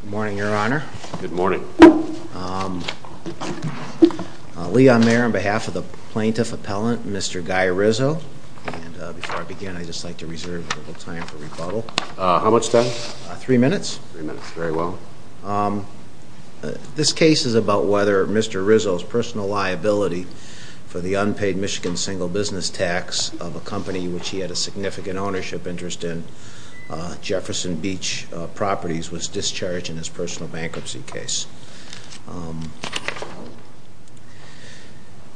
Good morning, Your Honor. Good morning. Leon Mayer, on behalf of the Plaintiff Appellant, Mr. Guy Rizzo. Before I begin, I'd just like to reserve a little time for rebuttal. How much time? Three minutes. Very well. This case is about whether Mr. Rizzo's personal liability for the unpaid Michigan single business tax of a company which he had a significant ownership interest in, Jefferson Beach Properties, was discharged in his personal bankruptcy case.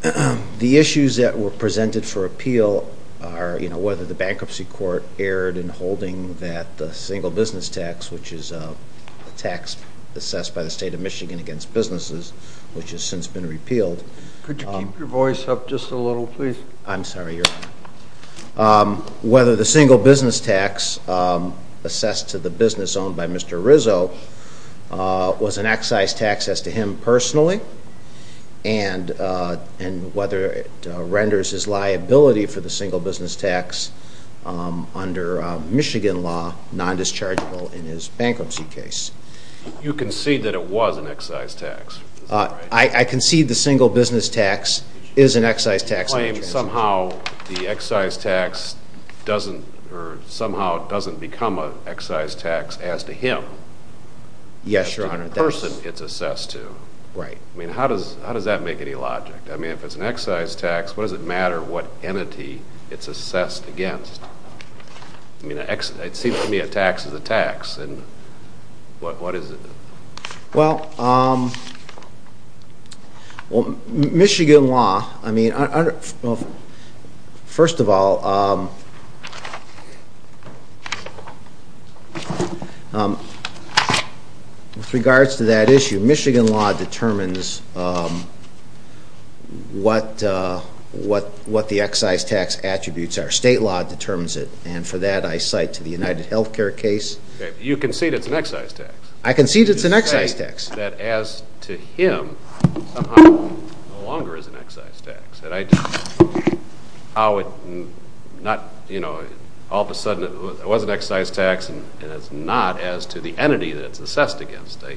The issues that were presented for appeal are whether the bankruptcy court erred in holding that single business tax, which is a tax assessed by the State of Michigan against businesses, which has since been repealed. Could you keep your voice up just a little, please? I'm sorry, Your Honor. Whether the single business tax assessed to the business owned by Mr. Rizzo was an excise tax as to him personally, and whether it renders his liability for the single business tax under Michigan law non-dischargeable in his bankruptcy case. You concede that it was an excise tax, is that right? I concede the single business tax is an excise tax. You claim somehow the excise tax doesn't, or somehow it doesn't become an excise tax as to him. Yes, Your Honor. As to the person it's assessed to. Right. I mean, how does that make any logic? I mean, if it's an excise tax, what does it matter what entity it's assessed against? I mean, it seems to me a tax is a tax, and what is it? And for that, I cite to the UnitedHealthcare case. You concede it's an excise tax? I concede it's an excise tax. You say that as to him, somehow it no longer is an excise tax. All of a sudden it was an excise tax, and it's not as to the entity that it's assessed against. I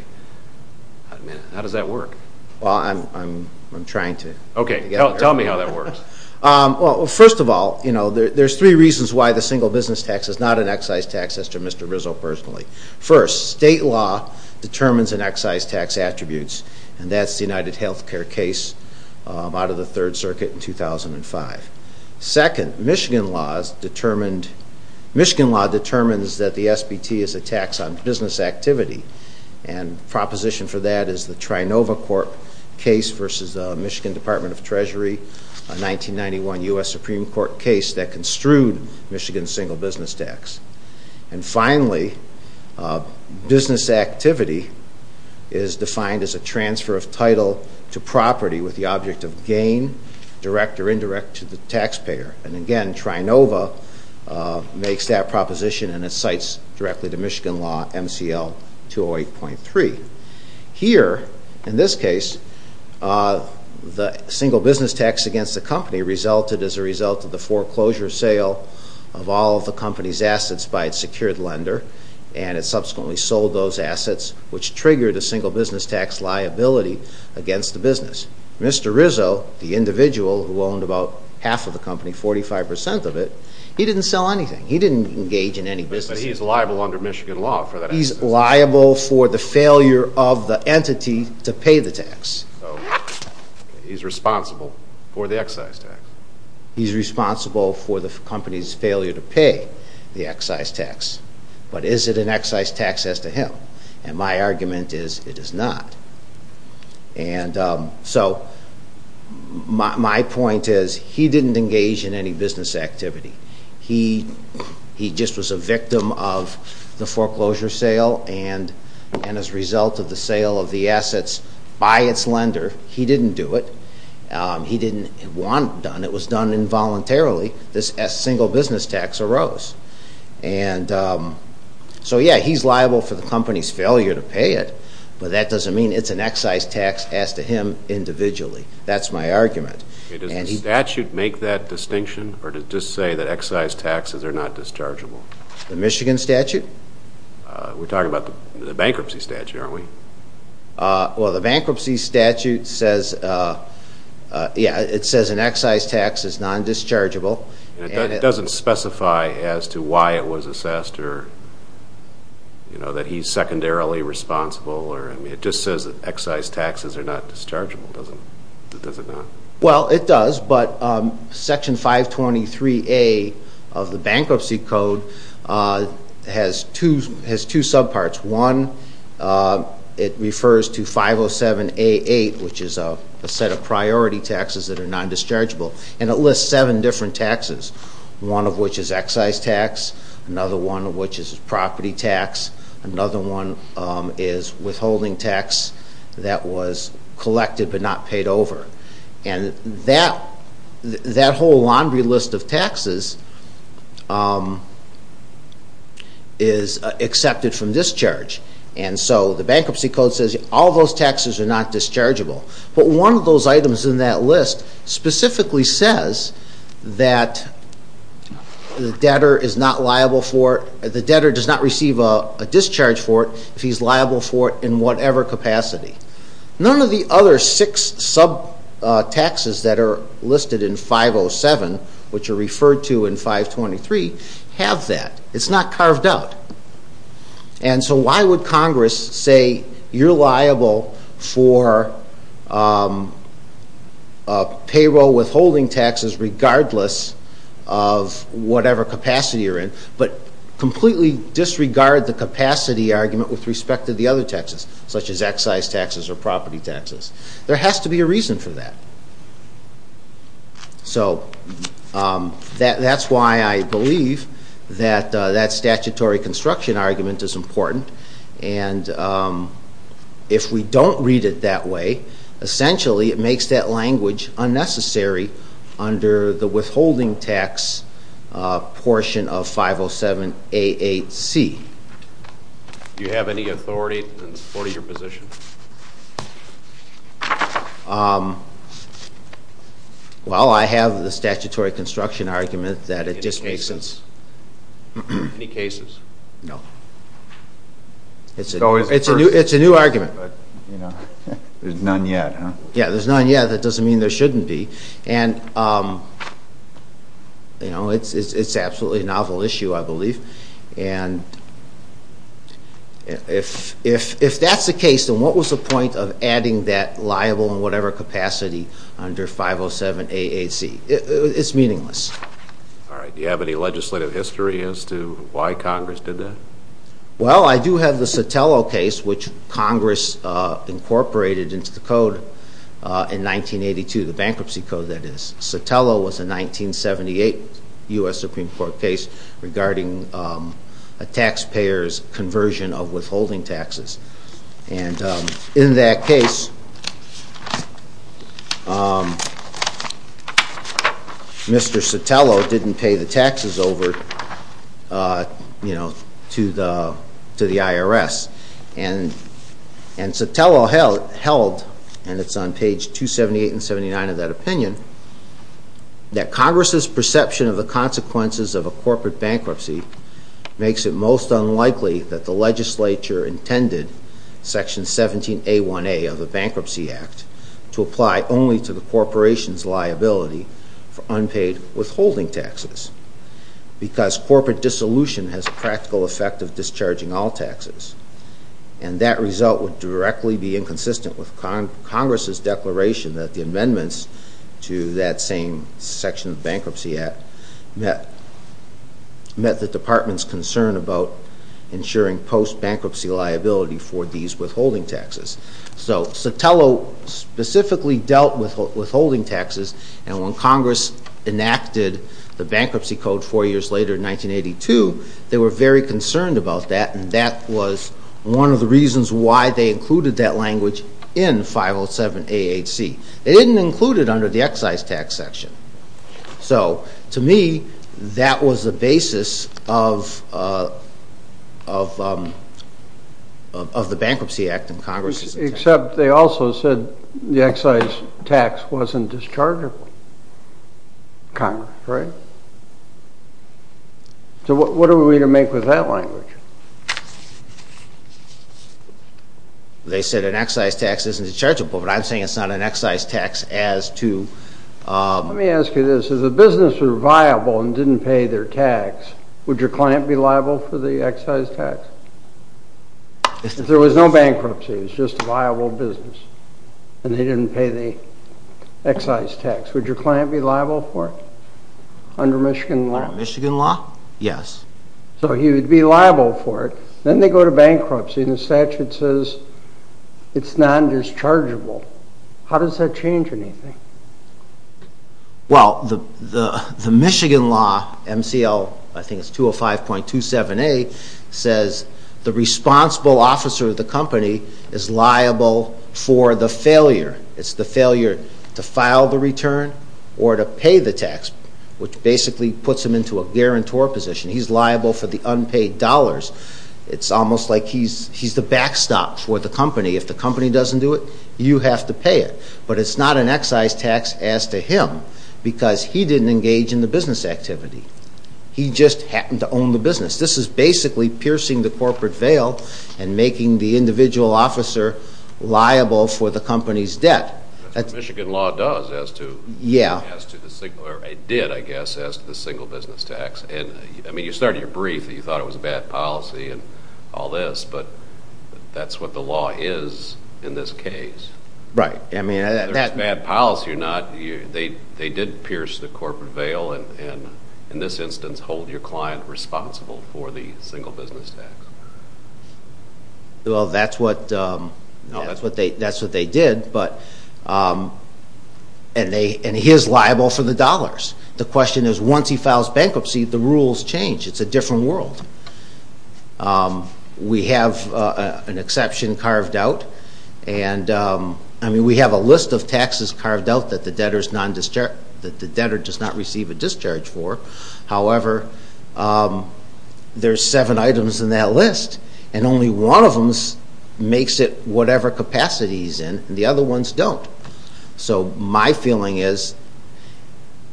mean, how does that work? Well, I'm trying to get there. Okay, tell me how that works. Well, first of all, there's three reasons why the single business tax is not an excise tax as to Mr. Rizzo personally. First, state law determines an excise tax attributes, and that's the UnitedHealthcare case out of the Third Circuit in 2005. Second, Michigan law determines that the SBT is a tax on business activity, and proposition for that is the Trinova Court case versus Michigan Department of Treasury, a 1991 U.S. Supreme Court case that construed Michigan's single business tax. And finally, business activity is defined as a transfer of title to property with the object of gain, direct or indirect, to the taxpayer. And again, Trinova makes that proposition and it cites directly to Michigan law, MCL 208.3. Here, in this case, the single business tax against the company resulted as a result of the foreclosure sale of all of the company's assets by its secured lender, and it subsequently sold those assets, which triggered a single business tax liability against the business. Mr. Rizzo, the individual who owned about half of the company, 45% of it, he didn't sell anything. He didn't engage in any business activity. But he's liable under Michigan law for that accident. He's liable for the failure of the entity to pay the tax. So, he's responsible for the excise tax. He's responsible for the company's failure to pay the excise tax. But is it an excise tax as to him? And my argument is, it is not. And so, my point is, he didn't engage in any business activity. He just was a victim of the foreclosure sale and as a result of the sale of the assets by its lender, he didn't do it. He didn't want it done. It was done involuntarily. This single business tax arose. And so, yeah, he's liable for the company's failure to pay it, but that doesn't mean it's an excise tax as to him individually. That's my argument. Does the statute make that distinction or does it just say that excise taxes are not dischargeable? The Michigan statute? We're talking about the bankruptcy statute, aren't we? Well, the bankruptcy statute says an excise tax is non-dischargeable. It doesn't specify as to why it was assessed or that he's secondarily responsible. It just says that excise taxes are not dischargeable, does it not? Well, it does, but Section 523A of the Bankruptcy Code has two subparts. One, it refers to 507A8, which is a set of priority taxes that are non-dischargeable, and it lists seven different taxes, one of which is excise tax, another one of which is property tax, another one is withholding tax that was collected but not paid over. And that whole laundry list of taxes is accepted from discharge. And so the Bankruptcy Code says all those taxes are not dischargeable. But one of those items in that list specifically says that the debtor does not receive a discharge for it if he's liable for it in whatever capacity. None of the other six subtaxes that are listed in 507, which are referred to in 523, have that. It's not carved out. And so why would Congress say you're liable for payroll withholding taxes regardless of whatever capacity you're in, but completely disregard the capacity argument with respect to the other taxes, such as excise taxes or property taxes? There has to be a reason for that. So that's why I believe that that statutory construction argument is important. And if we don't read it that way, essentially it makes that language unnecessary under the withholding tax portion of 507A8C. Do you have any authority in support of your position? Well, I have the statutory construction argument that it just makes sense. Any cases? No. It's a new argument. There's none yet, huh? Yeah, there's none yet. That doesn't mean there shouldn't be. And it's absolutely a novel issue, I believe. And if that's the case, then what was the point of adding that liable in whatever capacity under 507A8C? It's meaningless. All right. Do you have any legislative history as to why Congress did that? Well, I do have the Sotelo case, which Congress incorporated into the code in 1982, the bankruptcy code, that is. Sotelo was a 1978 U.S. Supreme Court case regarding a taxpayer's conversion of withholding taxes. And in that case, Mr. Sotelo didn't pay the taxes over to the IRS. And Sotelo held, and it's on page 278 and 279 of that opinion, that Congress's perception of the consequences of a corporate bankruptcy makes it most unlikely that the legislature intended Section 17A1A of the Bankruptcy Act to apply only to the corporation's liability for unpaid withholding taxes because corporate dissolution has a practical effect of discharging all taxes. And that result would directly be inconsistent with Congress's declaration that the amendments to that same section of the Bankruptcy Act met the Department's concern about ensuring post-bankruptcy liability for these withholding taxes. So Sotelo specifically dealt with withholding taxes, and when Congress enacted the bankruptcy code four years later in 1982, they were very concerned about that, and that was one of the reasons why they included that language in 507 A.H.C. They didn't include it under the excise tax section. So to me, that was the basis of the Bankruptcy Act in Congress. Except they also said the excise tax wasn't dischargeable. Congress, right? So what are we to make with that language? They said an excise tax isn't dischargeable, but I'm saying it's not an excise tax as to... Let me ask you this. If the business were viable and didn't pay their tax, would your client be liable for the excise tax? If there was no bankruptcy, it was just a viable business, and they didn't pay the excise tax, would your client be liable for it under Michigan law? Under Michigan law? Yes. So he would be liable for it. Then they go to bankruptcy, and the statute says it's non-dischargeable. How does that change anything? Well, the Michigan law, MCL, I think it's 205.27a, says the responsible officer of the company is liable for the failure. It's the failure to file the return or to pay the tax, which basically puts him into a guarantor position. He's liable for the unpaid dollars. It's almost like he's the backstop for the company. If the company doesn't do it, you have to pay it. But it's not an excise tax as to him because he didn't engage in the business activity. He just happened to own the business. This is basically piercing the corporate veil and making the individual officer liable for the company's debt. That's what Michigan law does as to the single business tax. I mean, you started your brief that you thought it was a bad policy and all this, but that's what the law is in this case. Right. Whether it's bad policy or not, they did pierce the corporate veil and in this instance hold your client responsible for the single business tax. Well, that's what they did, and he is liable for the dollars. The question is once he files bankruptcy, the rules change. It's a different world. We have an exception carved out. I mean, we have a list of taxes carved out that the debtor does not receive a discharge for. However, there are seven items in that list, and only one of them makes it whatever capacity he's in and the other ones don't. So my feeling is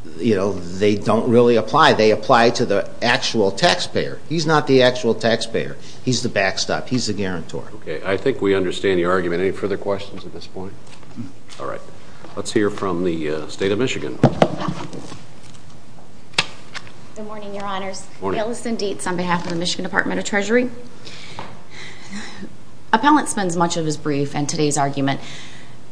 they don't really apply. They apply to the actual taxpayer. He's not the actual taxpayer. He's the backstop. He's the guarantor. Okay. I think we understand your argument. Any further questions at this point? All right. Let's hear from the State of Michigan. Good morning, Your Honors. Good morning. Allison Dietz on behalf of the Michigan Department of Treasury. Appellant spends much of his brief and today's argument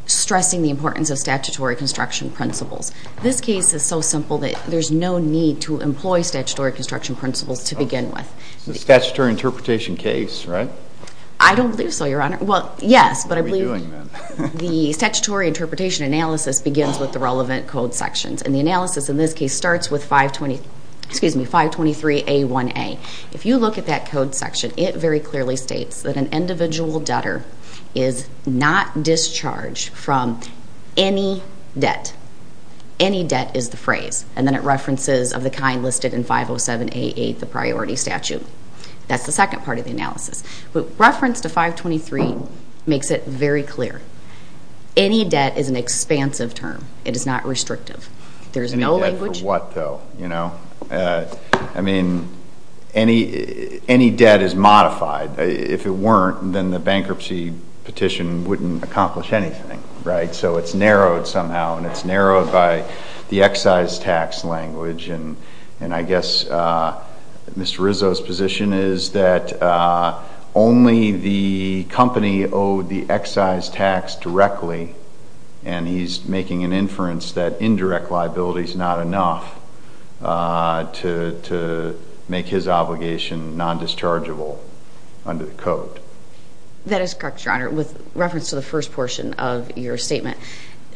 stressing the importance of statutory construction principles. This case is so simple that there's no need to employ statutory construction principles to begin with. It's a statutory interpretation case, right? I don't believe so, Your Honor. Well, yes, but I believe the statutory interpretation analysis begins with the relevant code sections, and the analysis in this case starts with 523A1A. If you look at that code section, it very clearly states that an individual debtor is not discharged from any debt. Any debt is the phrase, and then it references of the kind listed in 507A8, the priority statute. That's the second part of the analysis. Reference to 523 makes it very clear. Any debt is an expansive term. It is not restrictive. Any debt for what, though? I mean, any debt is modified. If it weren't, then the bankruptcy petition wouldn't accomplish anything, right? So it's narrowed somehow, and it's narrowed by the excise tax language, and I guess Mr. Rizzo's position is that only the company owed the excise tax directly, and he's making an inference that indirect liability is not enough to make his obligation non-dischargeable under the code. That is correct, Your Honor, with reference to the first portion of your statement.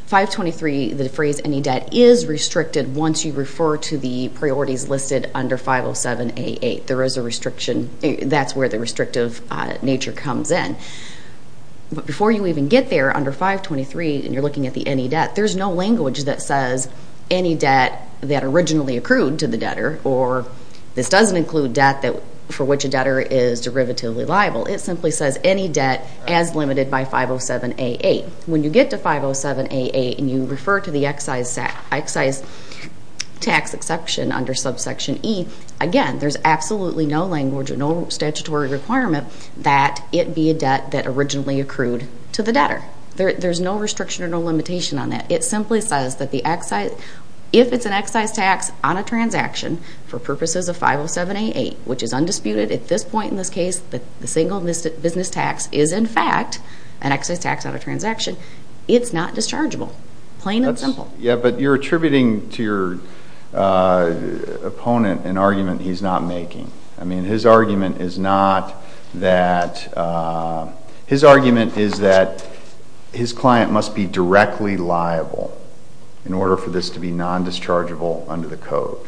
523, the phrase any debt, is restricted once you refer to the priorities listed under 507A8. There is a restriction. That's where the restrictive nature comes in. But before you even get there under 523 and you're looking at the any debt, there's no language that says any debt that originally accrued to the debtor, or this doesn't include debt for which a debtor is derivatively liable. It simply says any debt as limited by 507A8. When you get to 507A8 and you refer to the excise tax exception under subsection E, again, there's absolutely no language or no statutory requirement that it be a debt that originally accrued to the debtor. There's no restriction or no limitation on that. It simply says that if it's an excise tax on a transaction for purposes of 507A8, which is undisputed at this point in this case that the single business tax is in fact an excise tax on a transaction, it's not dischargeable, plain and simple. Yeah, but you're attributing to your opponent an argument he's not making. I mean, his argument is that his client must be directly liable in order for this to be nondischargeable under the code.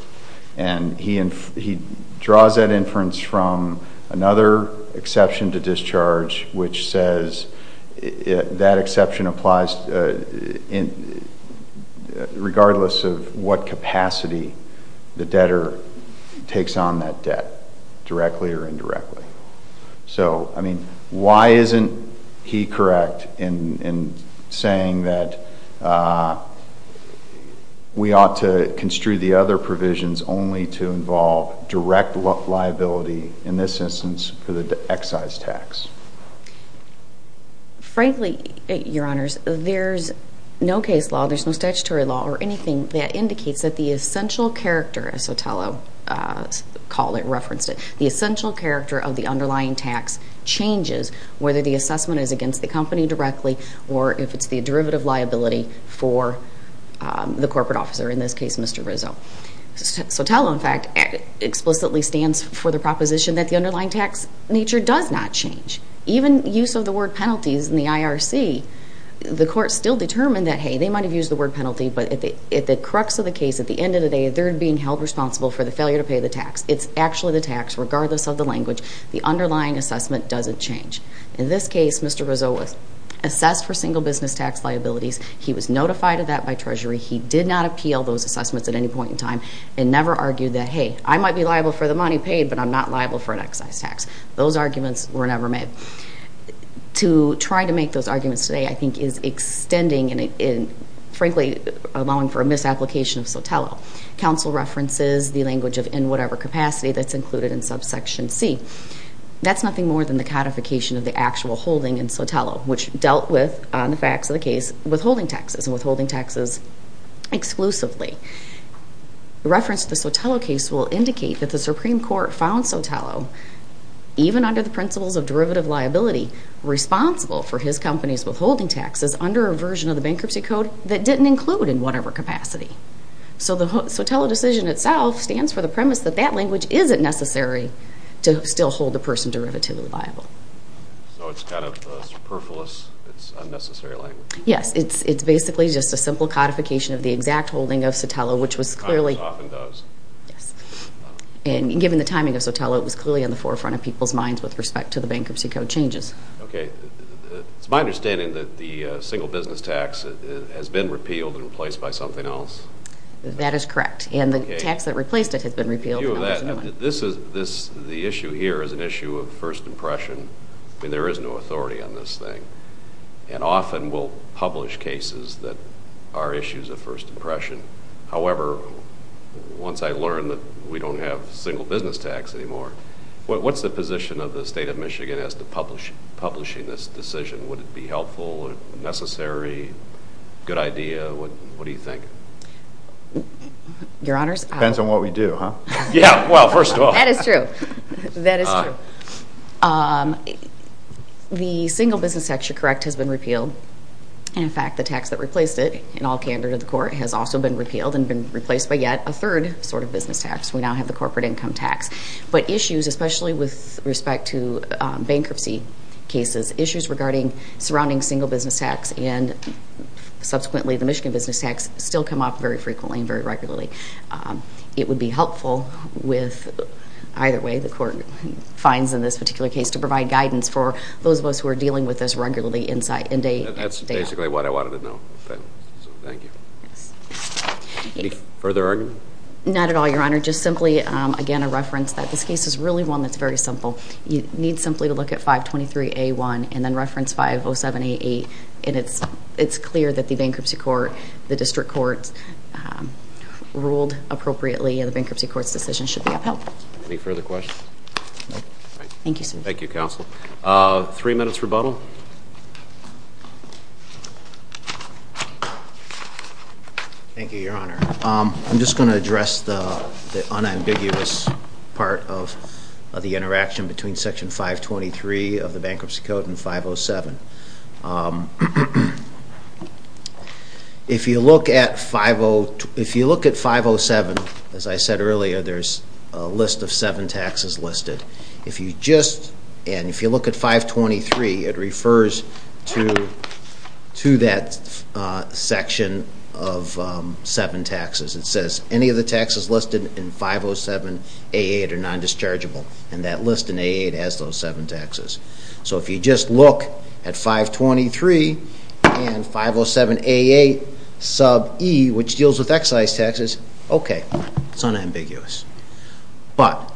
And he draws that inference from another exception to discharge, which says that exception applies regardless of what capacity the debtor takes on that debt, directly or indirectly. So, I mean, why isn't he correct in saying that we ought to construe the other provisions only to involve direct liability, in this instance, for the excise tax? Frankly, Your Honors, there's no case law, there's no statutory law or anything that indicates that the essential character, as Sotelo referenced it, the essential character of the underlying tax changes, whether the assessment is against the company directly or if it's the derivative liability for the corporate officer, in this case, Mr. Rizzo. Sotelo, in fact, explicitly stands for the proposition that the underlying tax nature does not change. Even use of the word penalties in the IRC, the court still determined that, hey, they might have used the word penalty, but at the crux of the case, at the end of the day, they're being held responsible for the failure to pay the tax. It's actually the tax, regardless of the language. The underlying assessment doesn't change. In this case, Mr. Rizzo was assessed for single business tax liabilities. He was notified of that by Treasury. He did not appeal those assessments at any point in time and never argued that, hey, I might be liable for the money paid, but I'm not liable for an excise tax. Those arguments were never made. To try to make those arguments today, I think, is extending and, frankly, allowing for a misapplication of Sotelo. Counsel references the language of in whatever capacity that's included in subsection C. That's nothing more than the codification of the actual holding in Sotelo, which dealt with, on the facts of the case, withholding taxes and withholding taxes exclusively. The reference to the Sotelo case will indicate that the Supreme Court found Sotelo, even under the principles of derivative liability, responsible for his company's withholding taxes under a version of the bankruptcy code that didn't include in whatever capacity. So the Sotelo decision itself stands for the premise that that language isn't necessary to still hold the person derivatively liable. So it's kind of a superfluous, it's unnecessary language. Yes, it's basically just a simple codification of the exact holding of Sotelo, which was clearly… It often does. Yes. And given the timing of Sotelo, it was clearly on the forefront of people's minds with respect to the bankruptcy code changes. Okay. It's my understanding that the single business tax has been repealed and replaced by something else. That is correct. And the tax that replaced it has been repealed. The issue here is an issue of first impression. I mean, there is no authority on this thing. And often we'll publish cases that are issues of first impression. However, once I learned that we don't have single business tax anymore, what's the position of the state of Michigan as to publishing this decision? Would it be helpful, necessary, good idea? What do you think? Your Honors… Depends on what we do, huh? Yeah. Well, first of all… That is true. That is true. The single business tax, you're correct, has been repealed. In fact, the tax that replaced it, in all candor to the court, has also been repealed and been replaced by yet a third sort of business tax. We now have the corporate income tax. But issues, especially with respect to bankruptcy cases, issues regarding surrounding single business tax and subsequently the Michigan business tax still come up very frequently and very regularly. It would be helpful with either way the court finds in this particular case to provide guidance for those of us who are dealing with this regularly. That's basically what I wanted to know. Thank you. Any further argument? Not at all, Your Honor. Just simply, again, a reference that this case is really one that's very simple. You need simply to look at 523A1 and then reference 507A8, and it's clear that the bankruptcy court, the district court ruled appropriately and the bankruptcy court's decision should be upheld. Any further questions? Thank you, sir. Thank you, counsel. Three minutes rebuttal. Thank you, Your Honor. I'm just going to address the unambiguous part of the interaction between Section 523 of the bankruptcy code and 507. If you look at 507, as I said earlier, there's a list of seven taxes listed. And if you look at 523, it refers to that section of seven taxes. It says any of the taxes listed in 507A8 are non-dischargeable, and that list in A8 has those seven taxes. So if you just look at 523 and 507A8 sub E, which deals with excise taxes, okay, it's unambiguous. But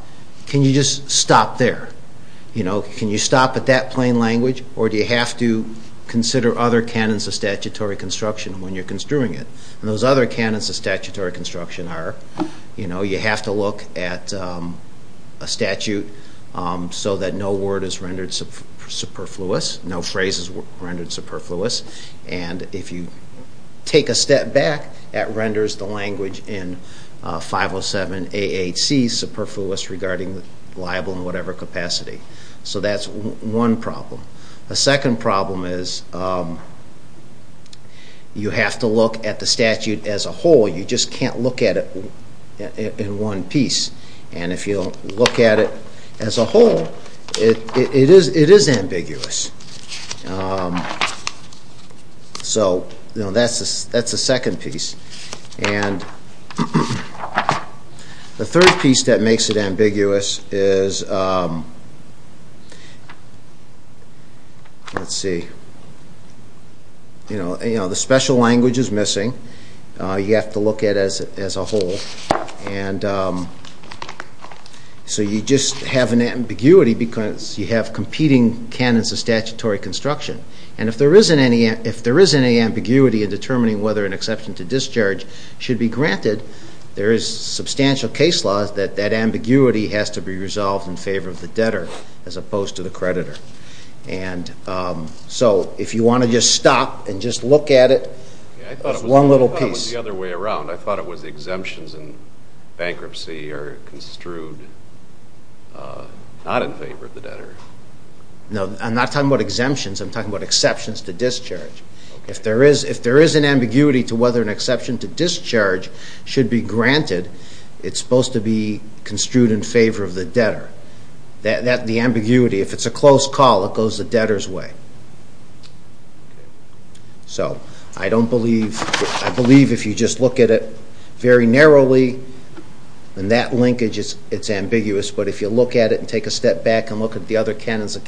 can you just stop there? Can you stop at that plain language, or do you have to consider other canons of statutory construction when you're construing it? And those other canons of statutory construction are you have to look at a statute so that no word is rendered superfluous, no phrase is rendered superfluous. And if you take a step back, that renders the language in 507A8C superfluous regarding liable in whatever capacity. So that's one problem. A second problem is you have to look at the statute as a whole. You just can't look at it in one piece. And if you don't look at it as a whole, it is ambiguous. So that's the second piece. And the third piece that makes it ambiguous is, let's see, you know, the special language is missing. You have to look at it as a whole. And so you just have an ambiguity because you have competing canons of statutory construction. And if there is any ambiguity in determining whether an exception to discharge should be granted, there is substantial case law that that ambiguity has to be resolved in favor of the debtor as opposed to the creditor. And so if you want to just stop and just look at it as one little piece. The other way around. I thought it was exemptions in bankruptcy are construed not in favor of the debtor. No, I'm not talking about exemptions. I'm talking about exceptions to discharge. If there is an ambiguity to whether an exception to discharge should be granted, it's supposed to be construed in favor of the debtor. The ambiguity, if it's a close call, it goes the debtor's way. So I don't believe, I believe if you just look at it very narrowly, and that linkage, it's ambiguous. But if you look at it and take a step back and look at the other canons of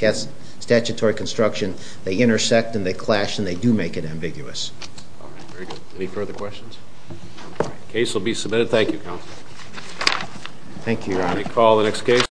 statutory construction, they intersect and they clash and they do make it ambiguous. All right, very good. Any further questions? The case will be submitted. Thank you, Counsel. Thank you. Do you want me to call the next case?